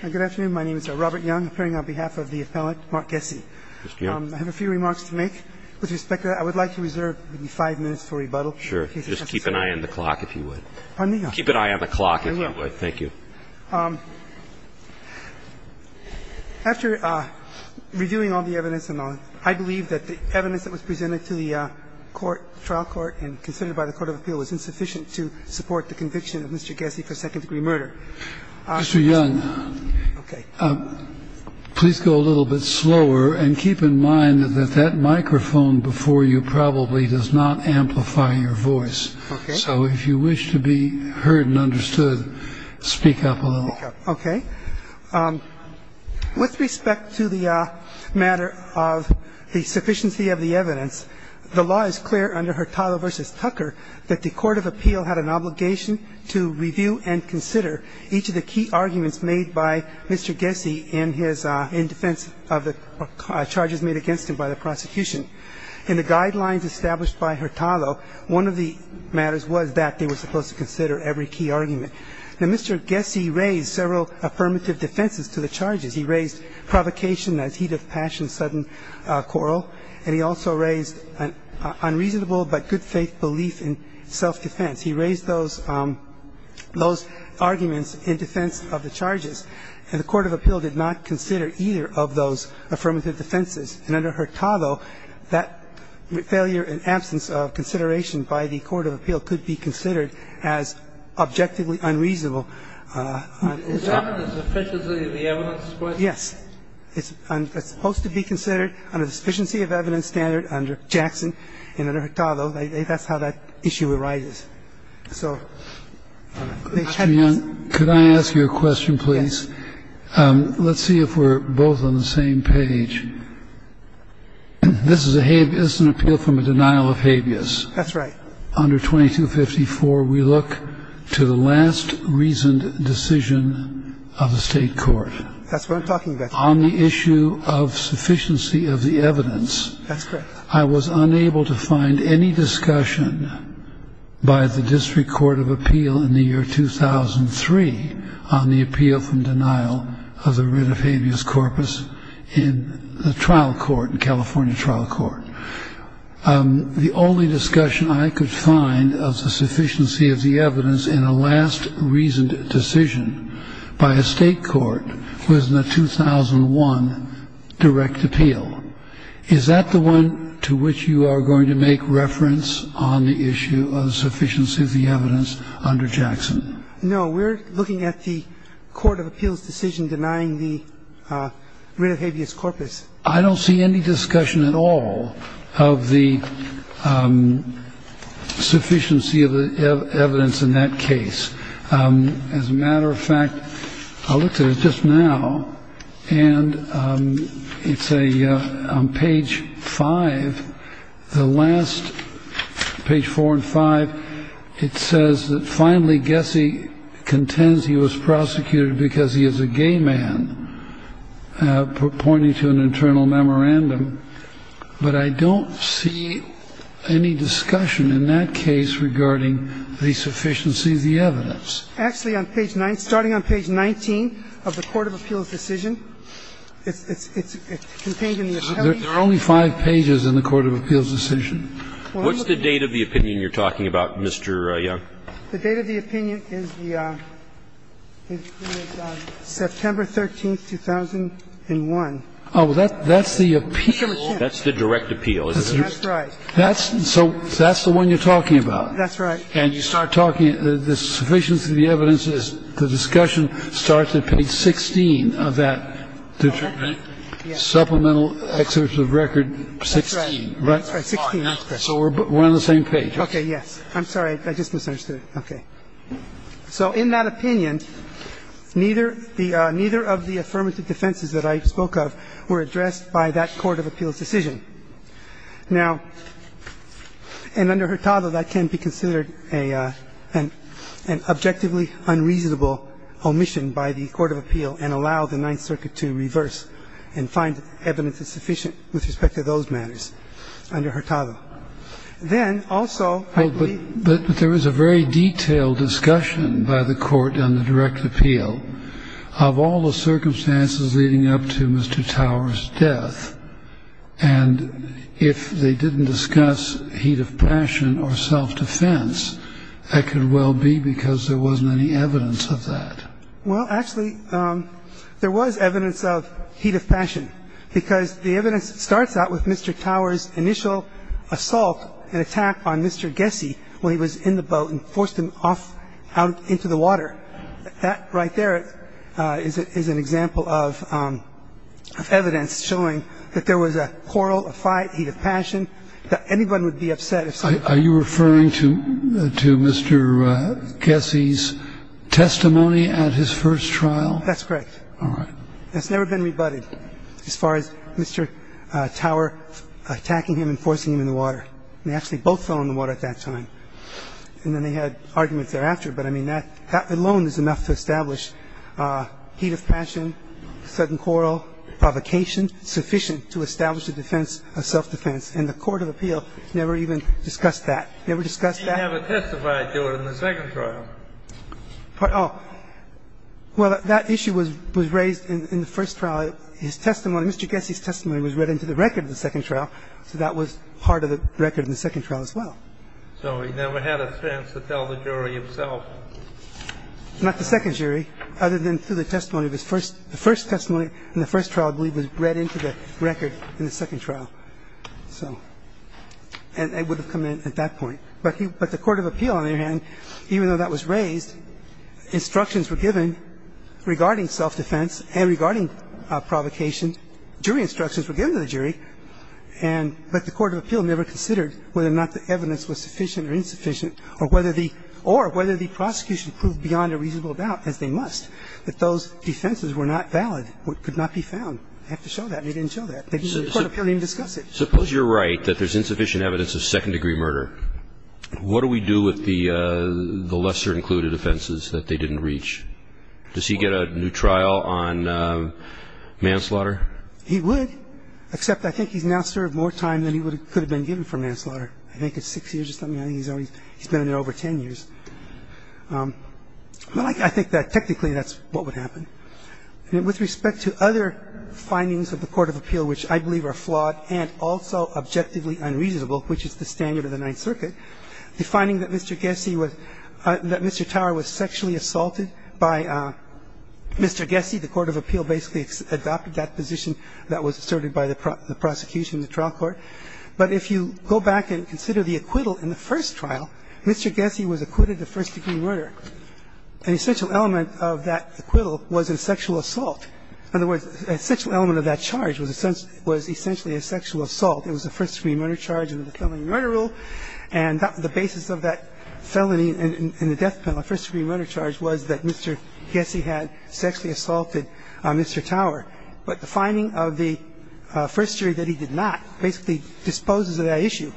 Good afternoon, my name is Robert Young, appearing on behalf of the appellant, Mark Gesse. I have a few remarks to make with respect to that. I would like to reserve maybe five minutes for rebuttal. Sure. Just keep an eye on the clock if you would. Pardon me? Keep an eye on the clock if you would. I will. Thank you. After reviewing all the evidence, I believe that the evidence that was presented to the trial court and considered by the Court of Appeal was insufficient to support the conviction of Mr. Gesse for second-degree murder. Mr. Young, please go a little bit slower and keep in mind that that microphone before you probably does not amplify your voice. So if you wish to be heard and understood, speak up a little. Okay. With respect to the matter of the sufficiency of the evidence, the law is clear under Hurtado v. Tucker that the Court of Appeal had an obligation to review and consider each of the key arguments made by Mr. Gesse in defense of the charges made against him by the prosecution. In the guidelines established by Hurtado, one of the matters was that they were supposed to consider every key argument. Now, Mr. Gesse raised several affirmative defenses to the charges. He raised provocation as heat of passion, sudden quarrel. And he also raised unreasonable but good-faith belief in self-defense. He raised those arguments in defense of the charges. And the Court of Appeal did not consider either of those affirmative defenses. And under Hurtado, that failure and absence of consideration by the Court of Appeal could be considered as objectively unreasonable. So it's not a sufficiency of the evidence question. Yes. It's supposed to be considered on a sufficiency of evidence standard under Jackson and under Hurtado. That's how that issue arises. So they had this. Could I ask you a question, please? Yes. Let's see if we're both on the same page. This is an appeal from a denial of habeas. That's right. Under 2254, we look to the last reasoned decision of the State court. That's what I'm talking about. On the issue of sufficiency of the evidence. That's correct. I was unable to find any discussion by the District Court of Appeal in the year 2003 on the appeal from denial of the writ of habeas corpus in the trial court, the California trial court. The only discussion I could find of the sufficiency of the evidence in a last reasoned decision by a State court was in the 2001 direct appeal. Is that the one to which you are going to make reference on the issue of sufficiency of the evidence under Jackson? No. We're looking at the Court of Appeal's decision denying the writ of habeas corpus. I don't see any discussion at all of the sufficiency of the evidence in that case. As a matter of fact, I looked at it just now, and it's a page five. The last page four and five, it says that finally, I guess he contends he was prosecuted because he is a gay man, pointing to an internal memorandum. But I don't see any discussion in that case regarding the sufficiency of the evidence. Actually, on page nine, starting on page 19 of the Court of Appeal's decision, it's contained in the appellate. There are only five pages in the Court of Appeal's decision. What's the date of the opinion you're talking about, Mr. Young? The date of the opinion is the September 13, 2001. Oh, that's the appeal. That's the direct appeal, isn't it? That's right. So that's the one you're talking about. That's right. And you start talking, the sufficiency of the evidence is the discussion starts at page 16 of that supplemental excerpt of record 16, right? That's right, 16. So we're on the same page. Okay, yes. I'm sorry. I just misunderstood. Okay. So in that opinion, neither of the affirmative defenses that I spoke of were addressed by that Court of Appeal's decision. Now, and under Hurtado, that can be considered an objectively unreasonable omission by the Court of Appeal and allow the Ninth Circuit to reverse and find evidence that's sufficient with respect to those matters under Hurtado. Then, also, I believe But there was a very detailed discussion by the Court on the direct appeal of all the circumstances leading up to Mr. Tower's death. And if they didn't discuss heat of passion or self-defense, that could well be because there wasn't any evidence of that. Well, actually, there was evidence of heat of passion, because the evidence starts out with Mr. Tower's initial assault and attack on Mr. Gessie when he was in the boat and forced him off out into the water. That right there is an example of evidence showing that there was a quarrel, a fight, heat of passion, that anyone would be upset if someone did that. Are you referring to Mr. Gessie's testimony at his first trial? That's correct. All right. That's never been rebutted as far as Mr. Tower attacking him and forcing him in the water. They actually both fell in the water at that time. And then they had arguments thereafter. But, I mean, that alone is enough to establish heat of passion, sudden quarrel, provocation sufficient to establish a defense of self-defense. And the Court of Appeal never even discussed that. Never discussed that. He never testified to it in the second trial. Well, that issue was raised in the first trial. His testimony, Mr. Gessie's testimony was read into the record of the second trial, so that was part of the record in the second trial as well. So he never had a sense to tell the jury himself? Not the second jury, other than through the testimony of his first ‑‑ the first testimony in the first trial, I believe, was read into the record in the second trial. So ‑‑ and it would have come in at that point. But the Court of Appeal, on the other hand, even though that was raised, instructions were given regarding self-defense and regarding provocation. Jury instructions were given to the jury. And ‑‑ but the Court of Appeal never considered whether or not the evidence was sufficient or insufficient or whether the prosecution proved beyond a reasonable doubt, as they must, that those defenses were not valid, could not be found. They have to show that, and they didn't show that. The Court of Appeal didn't even discuss it. Suppose you're right, that there's insufficient evidence of second-degree murder. What do we do with the lesser-included offenses that they didn't reach? Does he get a new trial on manslaughter? He would, except I think he's now served more time than he could have been given for manslaughter. I think it's six years or something. I think he's already ‑‑ he's been in there over ten years. But I think that technically that's what would happen. And with respect to other findings of the Court of Appeal, which I believe are both flawed and also objectively unreasonable, which is the standard of the Ninth Circuit, defining that Mr. Gessie was ‑‑ that Mr. Tower was sexually assaulted by Mr. Gessie, the Court of Appeal basically adopted that position that was asserted by the prosecution in the trial court. But if you go back and consider the acquittal in the first trial, Mr. Gessie was acquitted of first-degree murder. An essential element of that acquittal was a sexual assault. In other words, an essential element of that charge was essentially a sexual assault. It was a first-degree murder charge under the felony murder rule. And the basis of that felony in the death penalty, first-degree murder charge, was that Mr. Gessie had sexually assaulted Mr. Tower. But the finding of the first jury that he did not basically disposes of that issue.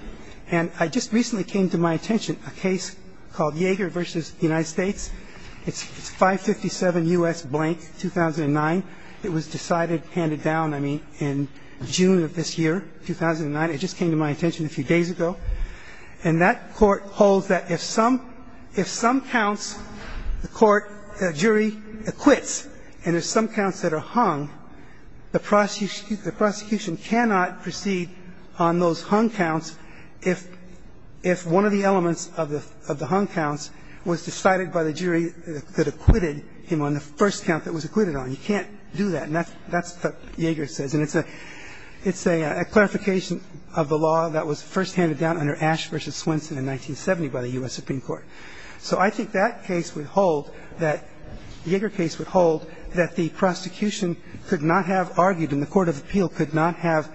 And I just recently came to my attention a case called Yeager v. United States. It's 557 U.S. blank, 2009. It was decided, handed down, I mean, in June of this year, 2009. It just came to my attention a few days ago. And that court holds that if some ‑‑ if some counts the court, the jury acquits and there's some counts that are hung, the prosecution cannot proceed on those hung counts if one of the elements of the hung counts was decided by the jury that acquitted him on the first count that was acquitted on. You can't do that. And that's what Yeager says. And it's a clarification of the law that was first handed down under Ash v. Swenson in 1970 by the U.S. Supreme Court. So I think that case would hold, that Yeager case would hold, that the prosecution could not have argued and the court of appeal could not have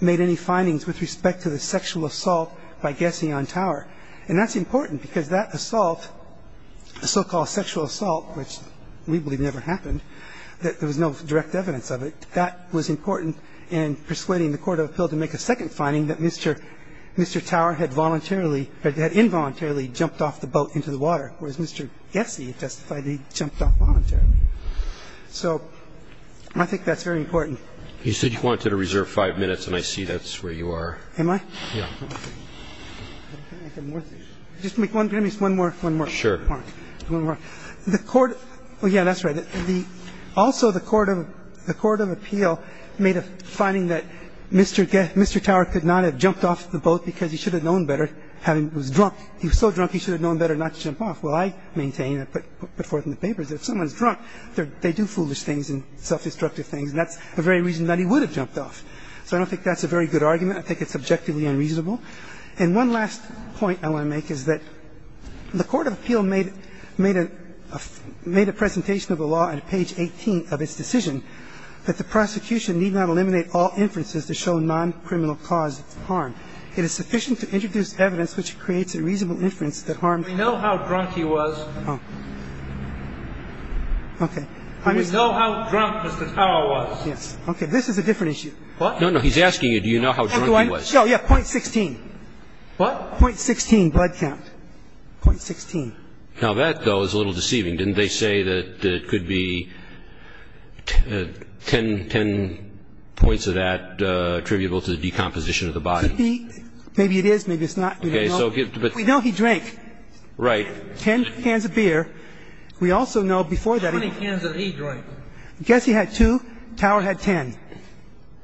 made any findings with respect to the sexual assault by Gessie on Tower. And that's important because that assault, the so‑called sexual assault, which we believe never happened, that there was no direct evidence of it, that was important in persuading the court of appeal to make a second finding that Mr. Tower had voluntarily ‑‑ had involuntarily jumped off the boat into the water, whereas Mr. Gessie testified he jumped off voluntarily. So I think that's very important. You said you wanted to reserve five minutes, and I see that's where you are. Am I? Yeah. Just give me one more point. Sure. One more. The court ‑‑ yeah, that's right. Also, the court of appeal made a finding that Mr. Tower could not have jumped off the boat because he should have known better, was drunk. He was so drunk he should have known better not to jump off. Well, I maintain, I put forth in the papers that if someone's drunk, they do foolish things and self‑destructive things. And that's the very reason that he would have jumped off. So I don't think that's a very good argument. I think it's objectively unreasonable. And one last point I want to make is that the court of appeal made a presentation of the law on page 18 of its decision that the prosecution need not eliminate all inferences to show noncriminal cause of harm. It is sufficient to introduce evidence which creates a reasonable inference that harm ‑‑ We know how drunk he was. Oh. Okay. We know how drunk Mr. Tower was. Yes. Okay. This is a different issue. What? No, no. He's asking you do you know how drunk he was. Oh, yeah, .16. What? .16 blood count. .16. Now, that, though, is a little deceiving. Didn't they say that it could be ten points of that attributable to the decomposition of the body? Could be. Maybe it is. Maybe it's not. We don't know. We know he drank. Right. Ten cans of beer. We also know before that ‑‑ How many cans did he drink? I guess he had two. Tower had ten.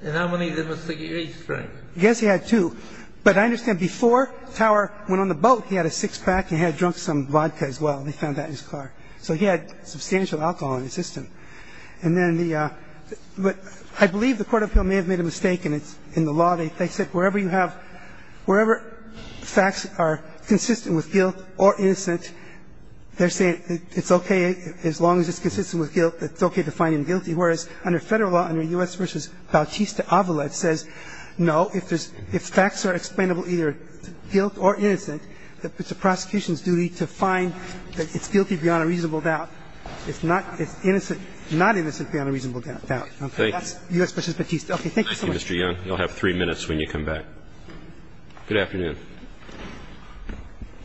And how many did Mr. Gates drink? I guess he had two. But I understand before Tower went on the boat, he had a six-pack and he had drunk some vodka as well. They found that in his car. So he had substantial alcohol in his system. And then the ‑‑ I believe the court of appeal may have made a mistake in the law. They said wherever you have ‑‑ wherever facts are consistent with guilt or innocence, they're saying it's okay, as long as it's consistent with guilt, it's okay to find him guilty, whereas under Federal law, under U.S. v. Bautista Avalet says no, if facts are explainable either guilt or innocence, it's the prosecution's duty to find that it's guilty beyond a reasonable doubt. It's not ‑‑ it's innocent ‑‑ not innocent beyond a reasonable doubt. Okay. That's U.S. v. Bautista. Okay. Thank you so much. Thank you, Mr. Young. You'll have three minutes when you come back. Good afternoon.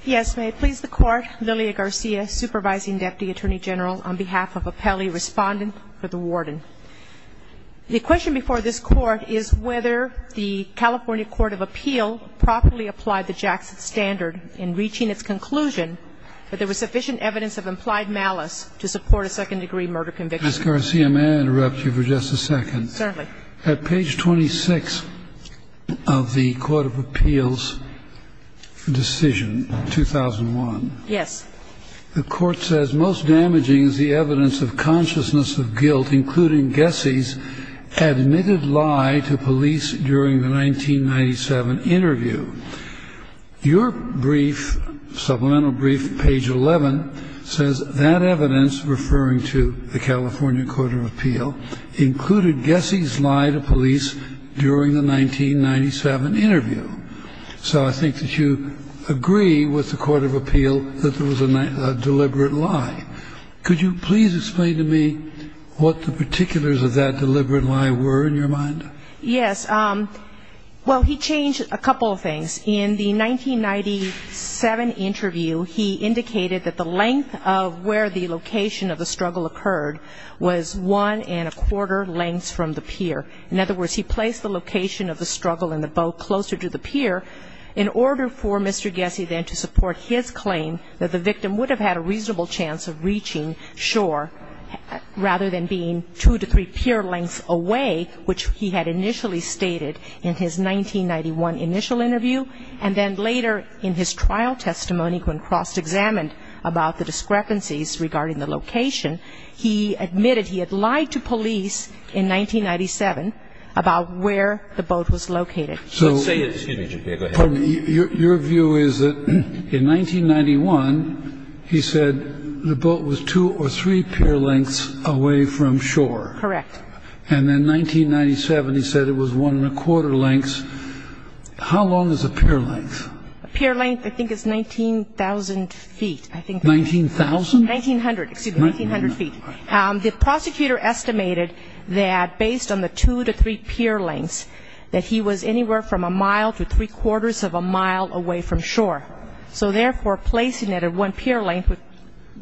Yes. May it please the Court, Lilia Garcia, Supervising Deputy Attorney General on behalf of a Pelley respondent for the warden. The question before this Court is whether the California court of appeal properly applied the Jackson standard in reaching its conclusion that there was sufficient evidence of implied malice to support a second degree murder conviction. Ms. Garcia, may I interrupt you for just a second? Certainly. At page 26 of the court of appeals decision, 2001. Yes. The court says most damaging is the evidence of consciousness of guilt, including Gessie's admitted lie to police during the 1997 interview. Your brief, supplemental brief, page 11, says that evidence referring to the California court of appeal included Gessie's lie to police during the 1997 interview. So I think that you agree with the court of appeal that there was a deliberate lie. Could you please explain to me what the particulars of that deliberate lie were in your mind? Yes. Well, he changed a couple of things. In the 1997 interview, he indicated that the length of where the location of the struggle occurred was one and a quarter lengths from the pier. In other words, he placed the location of the struggle and the boat closer to the pier in order for Mr. Gessie then to support his claim that the victim would have had a reasonable chance of reaching shore rather than being two to three pier lengths away, which he had initially stated in his 1991 initial interview. And then later in his trial testimony when cross-examined about the discrepancies regarding the location, he admitted he had lied to police in 1997 about where the boat was located. So your view is that in 1991, he said the boat was two or three pier lengths away from shore. Correct. And in 1997, he said it was one and a quarter lengths. How long is a pier length? A pier length I think is 19,000 feet. 19,000? 1900. Excuse me, 1900 feet. The prosecutor estimated that based on the two to three pier lengths, that he was anywhere from a mile to three quarters of a mile away from shore. So therefore, placing it at one pier length would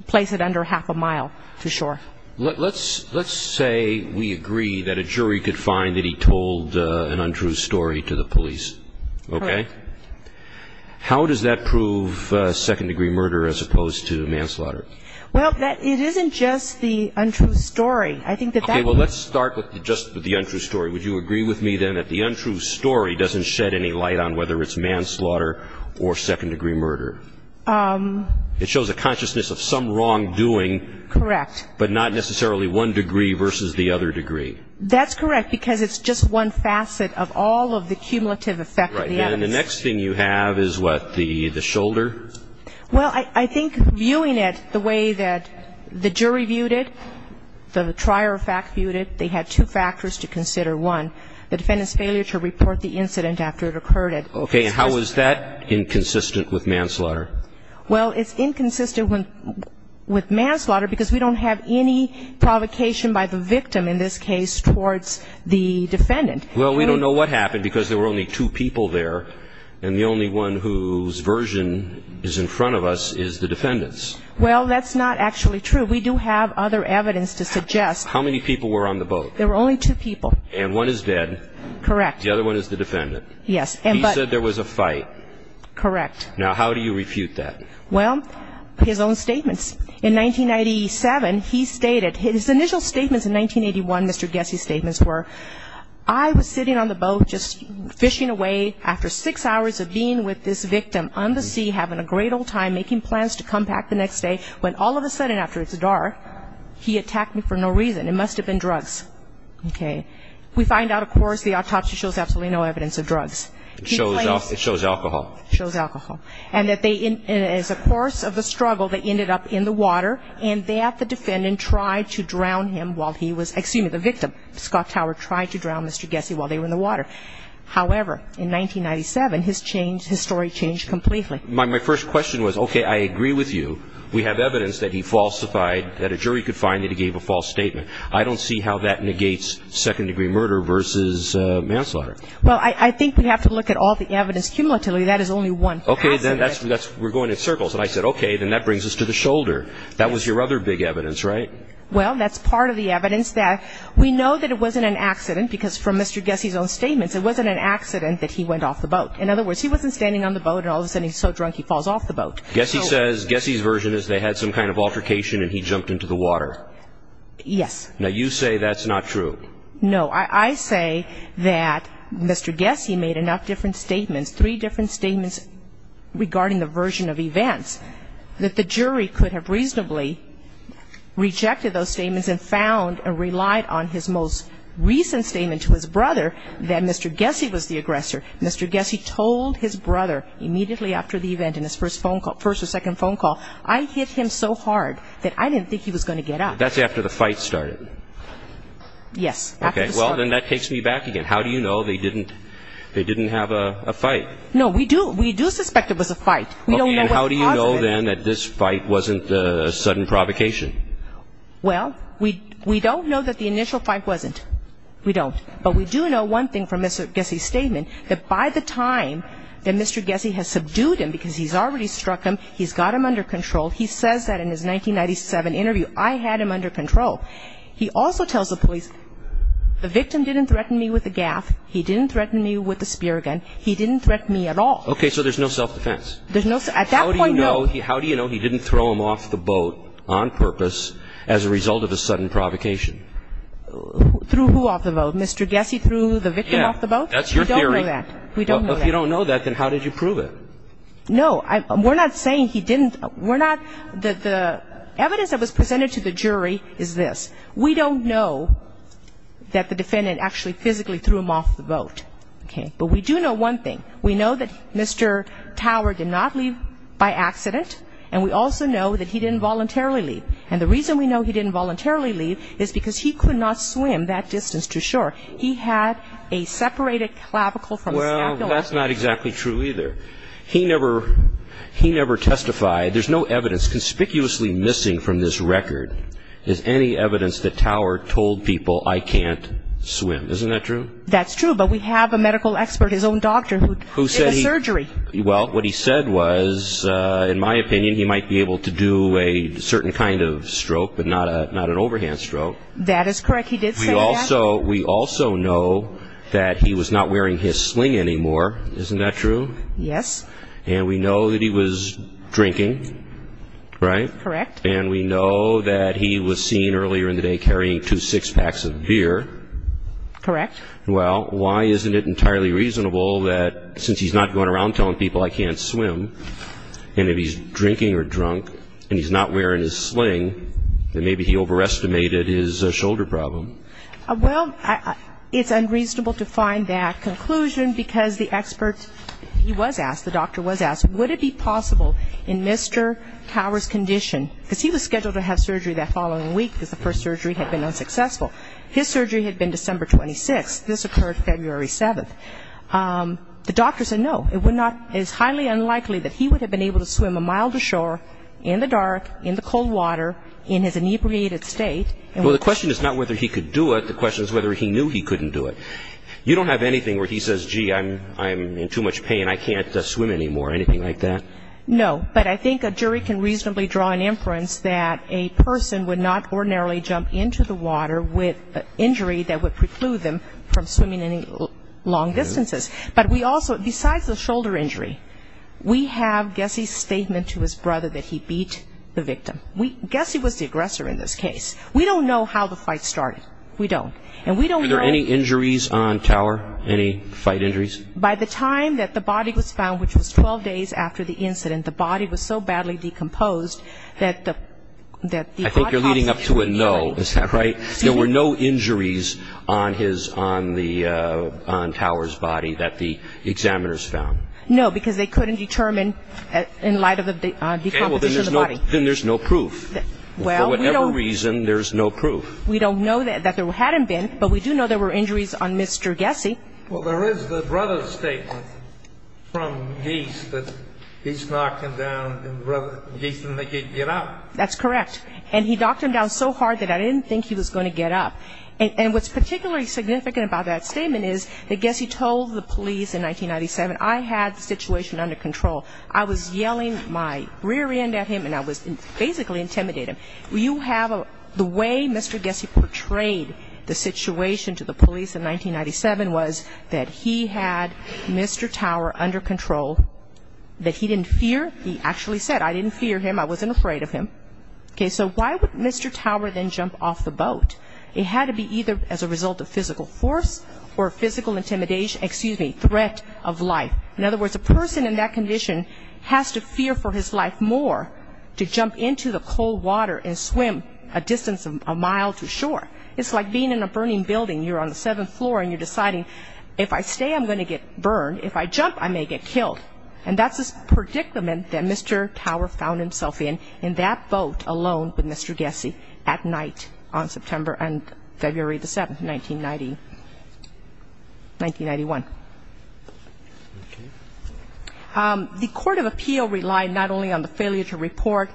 place it under half a mile to shore. Let's say we agree that a jury could find that he told an untrue story to the police. Correct. Okay? How does that prove second-degree murder as opposed to manslaughter? Well, it isn't just the untrue story. Okay, well, let's start with just the untrue story. Would you agree with me then that the untrue story doesn't shed any light on whether it's manslaughter or second-degree murder? It shows a consciousness of some wrongdoing. Correct. But not necessarily one degree versus the other degree. That's correct because it's just one facet of all of the cumulative effect of the evidence. And the next thing you have is what, the shoulder? Well, I think viewing it the way that the jury viewed it, the trier of fact viewed it, they had two factors to consider. One, the defendant's failure to report the incident after it occurred. Okay, and how is that inconsistent with manslaughter? Well, it's inconsistent with manslaughter because we don't have any provocation by the victim, in this case, towards the defendant. Well, we don't know what happened because there were only two people there, and the only one whose version is in front of us is the defendant's. Well, that's not actually true. We do have other evidence to suggest. How many people were on the boat? There were only two people. And one is dead. Correct. The other one is the defendant. Yes. He said there was a fight. Correct. Now, how do you refute that? Well, his own statements. In 1997, he stated, his initial statements in 1981, Mr. Gessie's statements were, I was sitting on the boat just fishing away after six hours of being with this victim on the sea, having a great old time, making plans to come back the next day, when all of a sudden after it's dark, he attacked me for no reason. It must have been drugs. Okay. We find out, of course, the autopsy shows absolutely no evidence of drugs. It shows alcohol. It shows alcohol. And as a course of the struggle, they ended up in the water, and that the defendant tried to drown him while he was, excuse me, the victim. Scott Tower tried to drown Mr. Gessie while they were in the water. However, in 1997, his story changed completely. My first question was, okay, I agree with you. We have evidence that he falsified, that a jury could find that he gave a false statement. I don't see how that negates second-degree murder versus manslaughter. Well, I think we have to look at all the evidence. Cumulatively, that is only one. Okay, then we're going in circles. And I said, okay, then that brings us to the shoulder. That was your other big evidence, right? Well, that's part of the evidence. We know that it wasn't an accident because from Mr. Gessie's own statements, it wasn't an accident that he went off the boat. In other words, he wasn't standing on the boat, and all of a sudden he's so drunk he falls off the boat. Gessie's version is they had some kind of altercation, and he jumped into the water. Yes. Now, you say that's not true. No. I say that Mr. Gessie made enough different statements, three different statements regarding the version of events, that the jury could have reasonably rejected those statements and found and relied on his most recent statement to his brother that Mr. Gessie was the aggressor. Mr. Gessie told his brother immediately after the event in his first or second phone call, I hit him so hard that I didn't think he was going to get up. That's after the fight started. Yes. Okay, well, then that takes me back again. How do you know they didn't have a fight? No, we do suspect it was a fight. How do you know, then, that this fight wasn't a sudden provocation? Well, we don't know that the initial fight wasn't. We don't. But we do know one thing from Mr. Gessie's statement, that by the time that Mr. Gessie has subdued him, because he's already struck him, he's got him under control, he says that in his 1997 interview, I had him under control. He also tells the police, the victim didn't threaten me with a gaff. He didn't threaten me with a speargun. He didn't threaten me at all. Okay, so there's no self-defense. At that point, no. How do you know he didn't throw him off the boat on purpose as a result of a sudden provocation? Threw who off the boat? Mr. Gessie threw the victim off the boat? Yeah, that's your theory. We don't know that. If you don't know that, then how did you prove it? No, we're not saying he didn't. The evidence that was presented to the jury is this. We don't know that the defendant actually physically threw him off the boat. Okay. But we do know one thing. We know that Mr. Tower did not leave by accident, and we also know that he didn't voluntarily leave. And the reason we know he didn't voluntarily leave is because he could not swim that distance to shore. He had a separated clavicle from his navel. Well, that's not exactly true either. He never testified. There's no evidence. Conspicuously missing from this record is any evidence that Tower told people, I can't swim. Isn't that true? That's true, but we have a medical expert, his own doctor, who did the surgery. Well, what he said was, in my opinion, he might be able to do a certain kind of stroke, but not an overhand stroke. That is correct. He did say that. We also know that he was not wearing his sling anymore. Isn't that true? Yes. And we know that he was drinking, right? Correct. And we know that he was seen earlier in the day carrying two six-packs of beer. Correct. Well, why isn't it entirely reasonable that since he's not going around telling people, I can't swim, and if he's drinking or drunk and he's not wearing his sling, then maybe he overestimated his shoulder problem. Well, it's unreasonable to find that conclusion because the expert, he was asked, the doctor was asked, would it be possible in Mr. Tower's condition, because he was scheduled to have surgery that following week because the first surgery had been unsuccessful. His surgery had been December 26th. This occurred February 7th. The doctor said no, it's highly unlikely that he would have been able to swim a mile to shore in the dark, in the cold water, in his inebriated state. Well, the question is not whether he could do it. The question is whether he knew he couldn't do it. You don't have anything where he says, gee, I'm in too much pain, I can't swim anymore, anything like that? No. But I think a jury can reasonably draw an inference that a person would not ordinarily jump into the water with an injury that would preclude them from swimming any long distances. Besides the shoulder injury, we have Gessie's statement to his brother that he beat the victim. Gessie was the aggressor in this case. We don't know how the fight started. We don't. Were there any injuries on Tower, any fight injuries? By the time that the body was found, which was 12 days after the incident, the body was so badly decomposed that the I think you're leading up to a no, is that right? There were no injuries on Tower's body that the examiners found. No, because they couldn't determine in light of the decomposition of the body. Then there's no proof. For whatever reason, there's no proof. We don't know that there hadn't been, but we do know there were injuries on Mr. Gessie. Well, there is the brother's statement from Geese that he's knocked him down and Geese didn't let him get up. That's correct. And he knocked him down so hard that I didn't think he was going to get up. And what's particularly significant about that statement is that Gessie told the police in 1997, I had the situation under control. I was yelling my rear end at him and I was basically intimidating him. You have the way Mr. Gessie portrayed the situation to the police in 1997 was that he had Mr. Tower under control, that he didn't fear, he actually said, I didn't fear him, I wasn't afraid of him. Okay, so why would Mr. Tower then jump off the boat? It had to be either as a result of physical force or physical intimidation, excuse me, threat of life. In other words, a person in that condition has to fear for his life more to jump into the cold water and swim a distance, a mile to shore. It's like being in a burning building. You're on the seventh floor and you're deciding if I stay, I'm going to get burned. If I jump, I may get killed. And that's a predicament that Mr. Tower found himself in, in that boat alone with Mr. Gessie, at night on September and February the 7th, 1990, 1991. Okay. The court of appeal relied not only on the failure to report.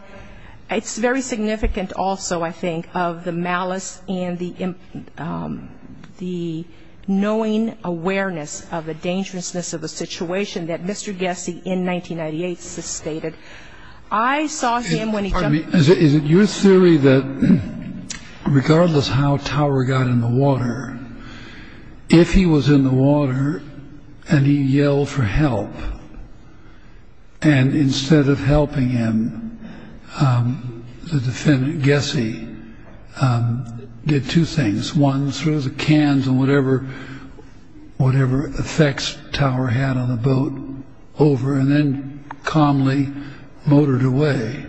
It's very significant also, I think, of the malice and the knowing awareness of the dangerousness of the situation that Mr. Gessie in 1998 sustained. I saw him when he jumped. Is it your theory that regardless how Tower got in the water, if he was in the water and he yelled for help, and instead of helping him, the defendant, Gessie, did two things. One, threw the cans and whatever effects Tower had on the boat over, and then calmly motored away.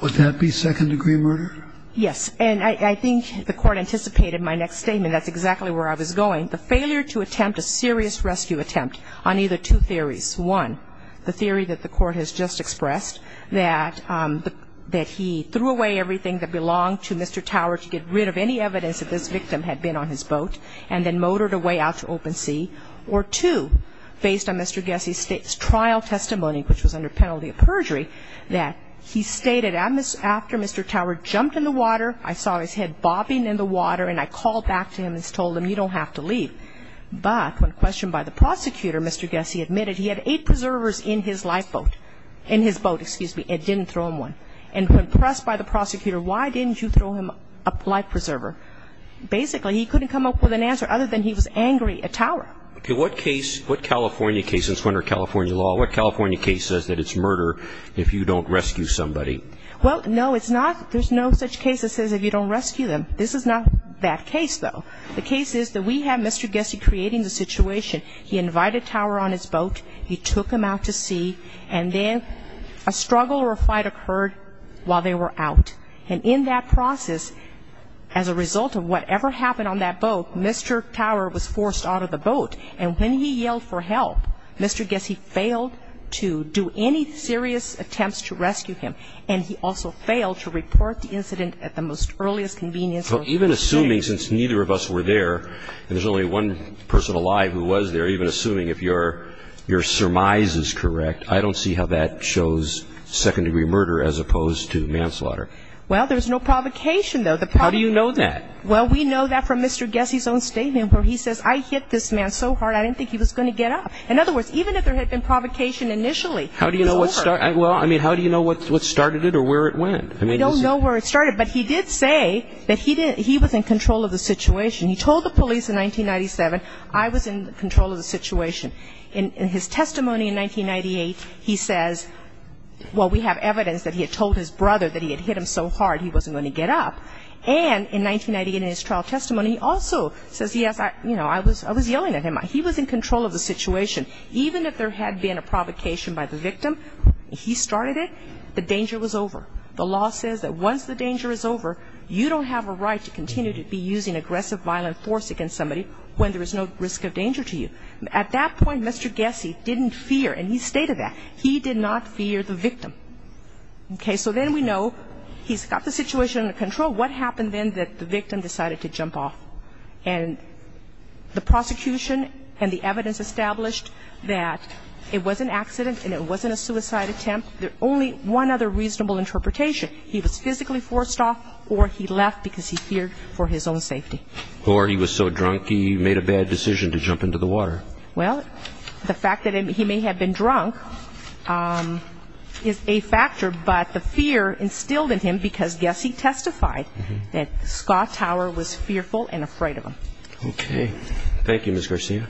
Would that be second-degree murder? Yes. And I think the court anticipated my next statement. That's exactly where I was going. The failure to attempt a serious rescue attempt on either two theories. One, the theory that the court has just expressed, that he threw away everything that belonged to Mr. Tower to get rid of any evidence that this victim had been on his boat, and then motored away out to open sea. Or two, based on Mr. Gessie's trial testimony, which was under penalty of perjury, that he stated after Mr. Tower jumped in the water, I saw his head bobbing in the water, and I called back to him and told him, you don't have to leave. But when questioned by the prosecutor, Mr. Gessie admitted he had eight preservers in his lifeboat, in his boat, excuse me, and didn't throw him one. And when pressed by the prosecutor, why didn't you throw him a life preserver? Basically, he couldn't come up with an answer other than he was angry at Tower. Okay. What case, what California case, it's under California law, what California case says that it's murder if you don't rescue somebody? Well, no, it's not. There's no such case that says if you don't rescue them. This is not that case, though. The case is that we have Mr. Gessie creating the situation. He invited Tower on his boat. He took him out to sea. And then a struggle or a fight occurred while they were out. And in that process, as a result of whatever happened on that boat, Mr. Tower was forced out of the boat. And when he yelled for help, Mr. Gessie failed to do any serious attempts to rescue him, and he also failed to report the incident at the most earliest convenience. So even assuming, since neither of us were there, and there's only one person alive who was there, even assuming if your surmise is correct, I don't see how that shows second-degree murder as opposed to manslaughter. Well, there's no provocation, though. How do you know that? Well, we know that from Mr. Gessie's own statement where he says, I hit this man so hard I didn't think he was going to get up. In other words, even if there had been provocation initially, it was over. Well, I mean, how do you know what started it or where it went? We don't know where it started, but he did say that he was in control of the situation. He told the police in 1997, I was in control of the situation. In his testimony in 1998, he says, well, we have evidence that he had told his brother that he had hit him so hard he wasn't going to get up. And in 1998 in his trial testimony, he also says, yes, I was yelling at him. He was in control of the situation. Even if there had been a provocation by the victim, he started it. The danger was over. The law says that once the danger is over, you don't have a right to continue to be using aggressive, violent force against somebody when there is no risk of danger to you. At that point, Mr. Gessie didn't fear. And he stated that. He did not fear the victim. Okay. So then we know he's got the situation under control. What happened then that the victim decided to jump off? And the prosecution and the evidence established that it was an accident and it wasn't a suicide attempt. There's only one other reasonable interpretation. He was physically forced off or he left because he feared for his own safety. Or he was so drunk he made a bad decision to jump into the water. Well, the fact that he may have been drunk is a factor. But the fear instilled in him because Gessie testified that Scott Tower was fearful and afraid of him. Okay. Thank you, Ms. Garcia.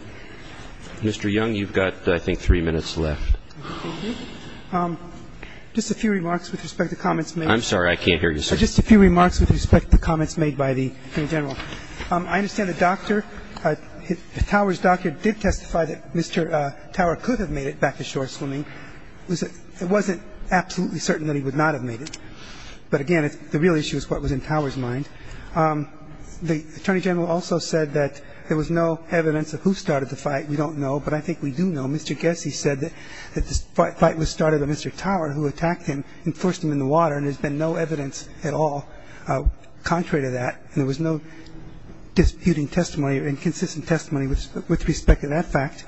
Mr. Young, you've got, I think, three minutes left. Just a few remarks with respect to comments made. I'm sorry. I can't hear you, sir. Just a few remarks with respect to comments made by the Attorney General. I understand the doctor, Tower's doctor did testify that Mr. Tower could have made it back to shore swimming. It wasn't absolutely certain that he would not have made it. But, again, the real issue is what was in Tower's mind. The Attorney General also said that there was no evidence of who started the fight. We don't know. But I think we do know. Mr. Gessie said that the fight was started by Mr. Tower, who attacked him and forced him in the water. And there's been no evidence at all contrary to that. And there was no disputing testimony or inconsistent testimony with respect to that fact.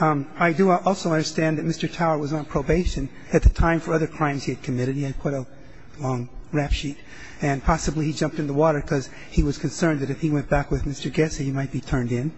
I do also understand that Mr. Tower was on probation at the time for other crimes he had committed. He had quite a long rap sheet. And possibly he jumped in the water because he was concerned that if he went back with Mr. Gessie, he might be turned in.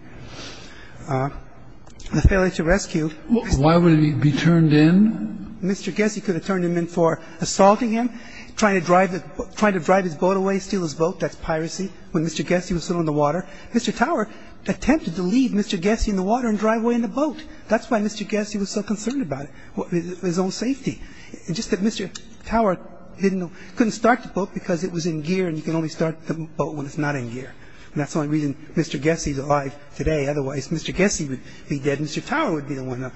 The failure to rescue Mr. Gessie. Why would he be turned in? Mr. Gessie could have turned him in for assaulting him, trying to drive his boat away, steal his boat. That's piracy, when Mr. Gessie was still in the water. Mr. Tower attempted to leave Mr. Gessie in the water and drive away in the boat. That's why Mr. Gessie was so concerned about it, his own safety. It's just that Mr. Tower couldn't start the boat because it was in gear and you can only start the boat when it's not in gear. And that's the only reason Mr. Gessie is alive today. Otherwise, Mr. Gessie would be dead and Mr. Tower would be the one.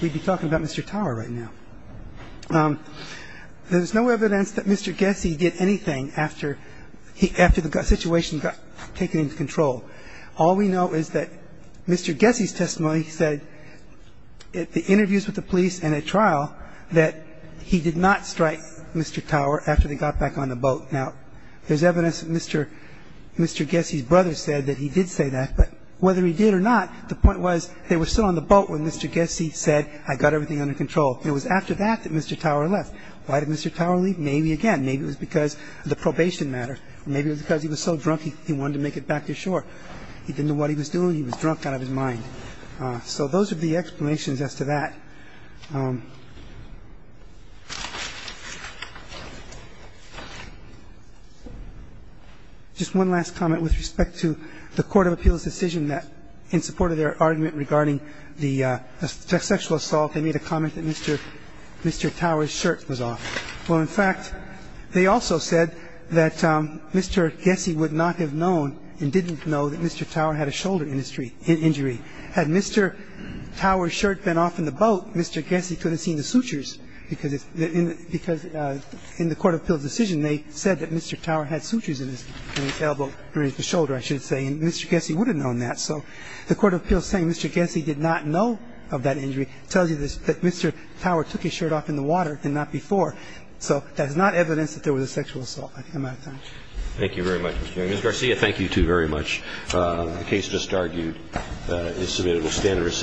We'd be talking about Mr. Tower right now. There's no evidence that Mr. Gessie did anything after the situation got taken into control. All we know is that Mr. Gessie's testimony said, at the interviews with the police and at trial, that he did not strike Mr. Tower after they got back on the boat. Now, there's evidence that Mr. Gessie's brother said that he did say that, but whether he did or not, the point was they were still on the boat when Mr. Gessie said, I got everything under control. It was after that that Mr. Tower left. Why did Mr. Tower leave? Maybe, again, maybe it was because of the probation matter. Maybe it was because he was so drunk he wanted to make it back to shore. He didn't know what he was doing. He was drunk out of his mind. So those are the explanations as to that. Just one last comment with respect to the court of appeals decision that in support of their argument regarding the sexual assault, they made a comment that Mr. Tower's shirt was off. Well, in fact, they also said that Mr. Gessie would not have known and didn't know that Mr. Tower had a shoulder injury. Had Mr. Tower's shirt been off in the boat, Mr. Gessie could have seen the sutures because in the court of appeals decision, they said that Mr. Tower had sutures in his elbow or in his shoulder, I should say, and Mr. Gessie would have known that. So the court of appeals saying Mr. Gessie did not know of that injury tells you that Mr. Tower took his shirt off in the water and not before. So that is not evidence that there was a sexual assault. I'm out of time. Thank you very much, Mr. Young. Ms. Garcia, thank you, too, very much. The case just argued is submitted. We'll stand and recess.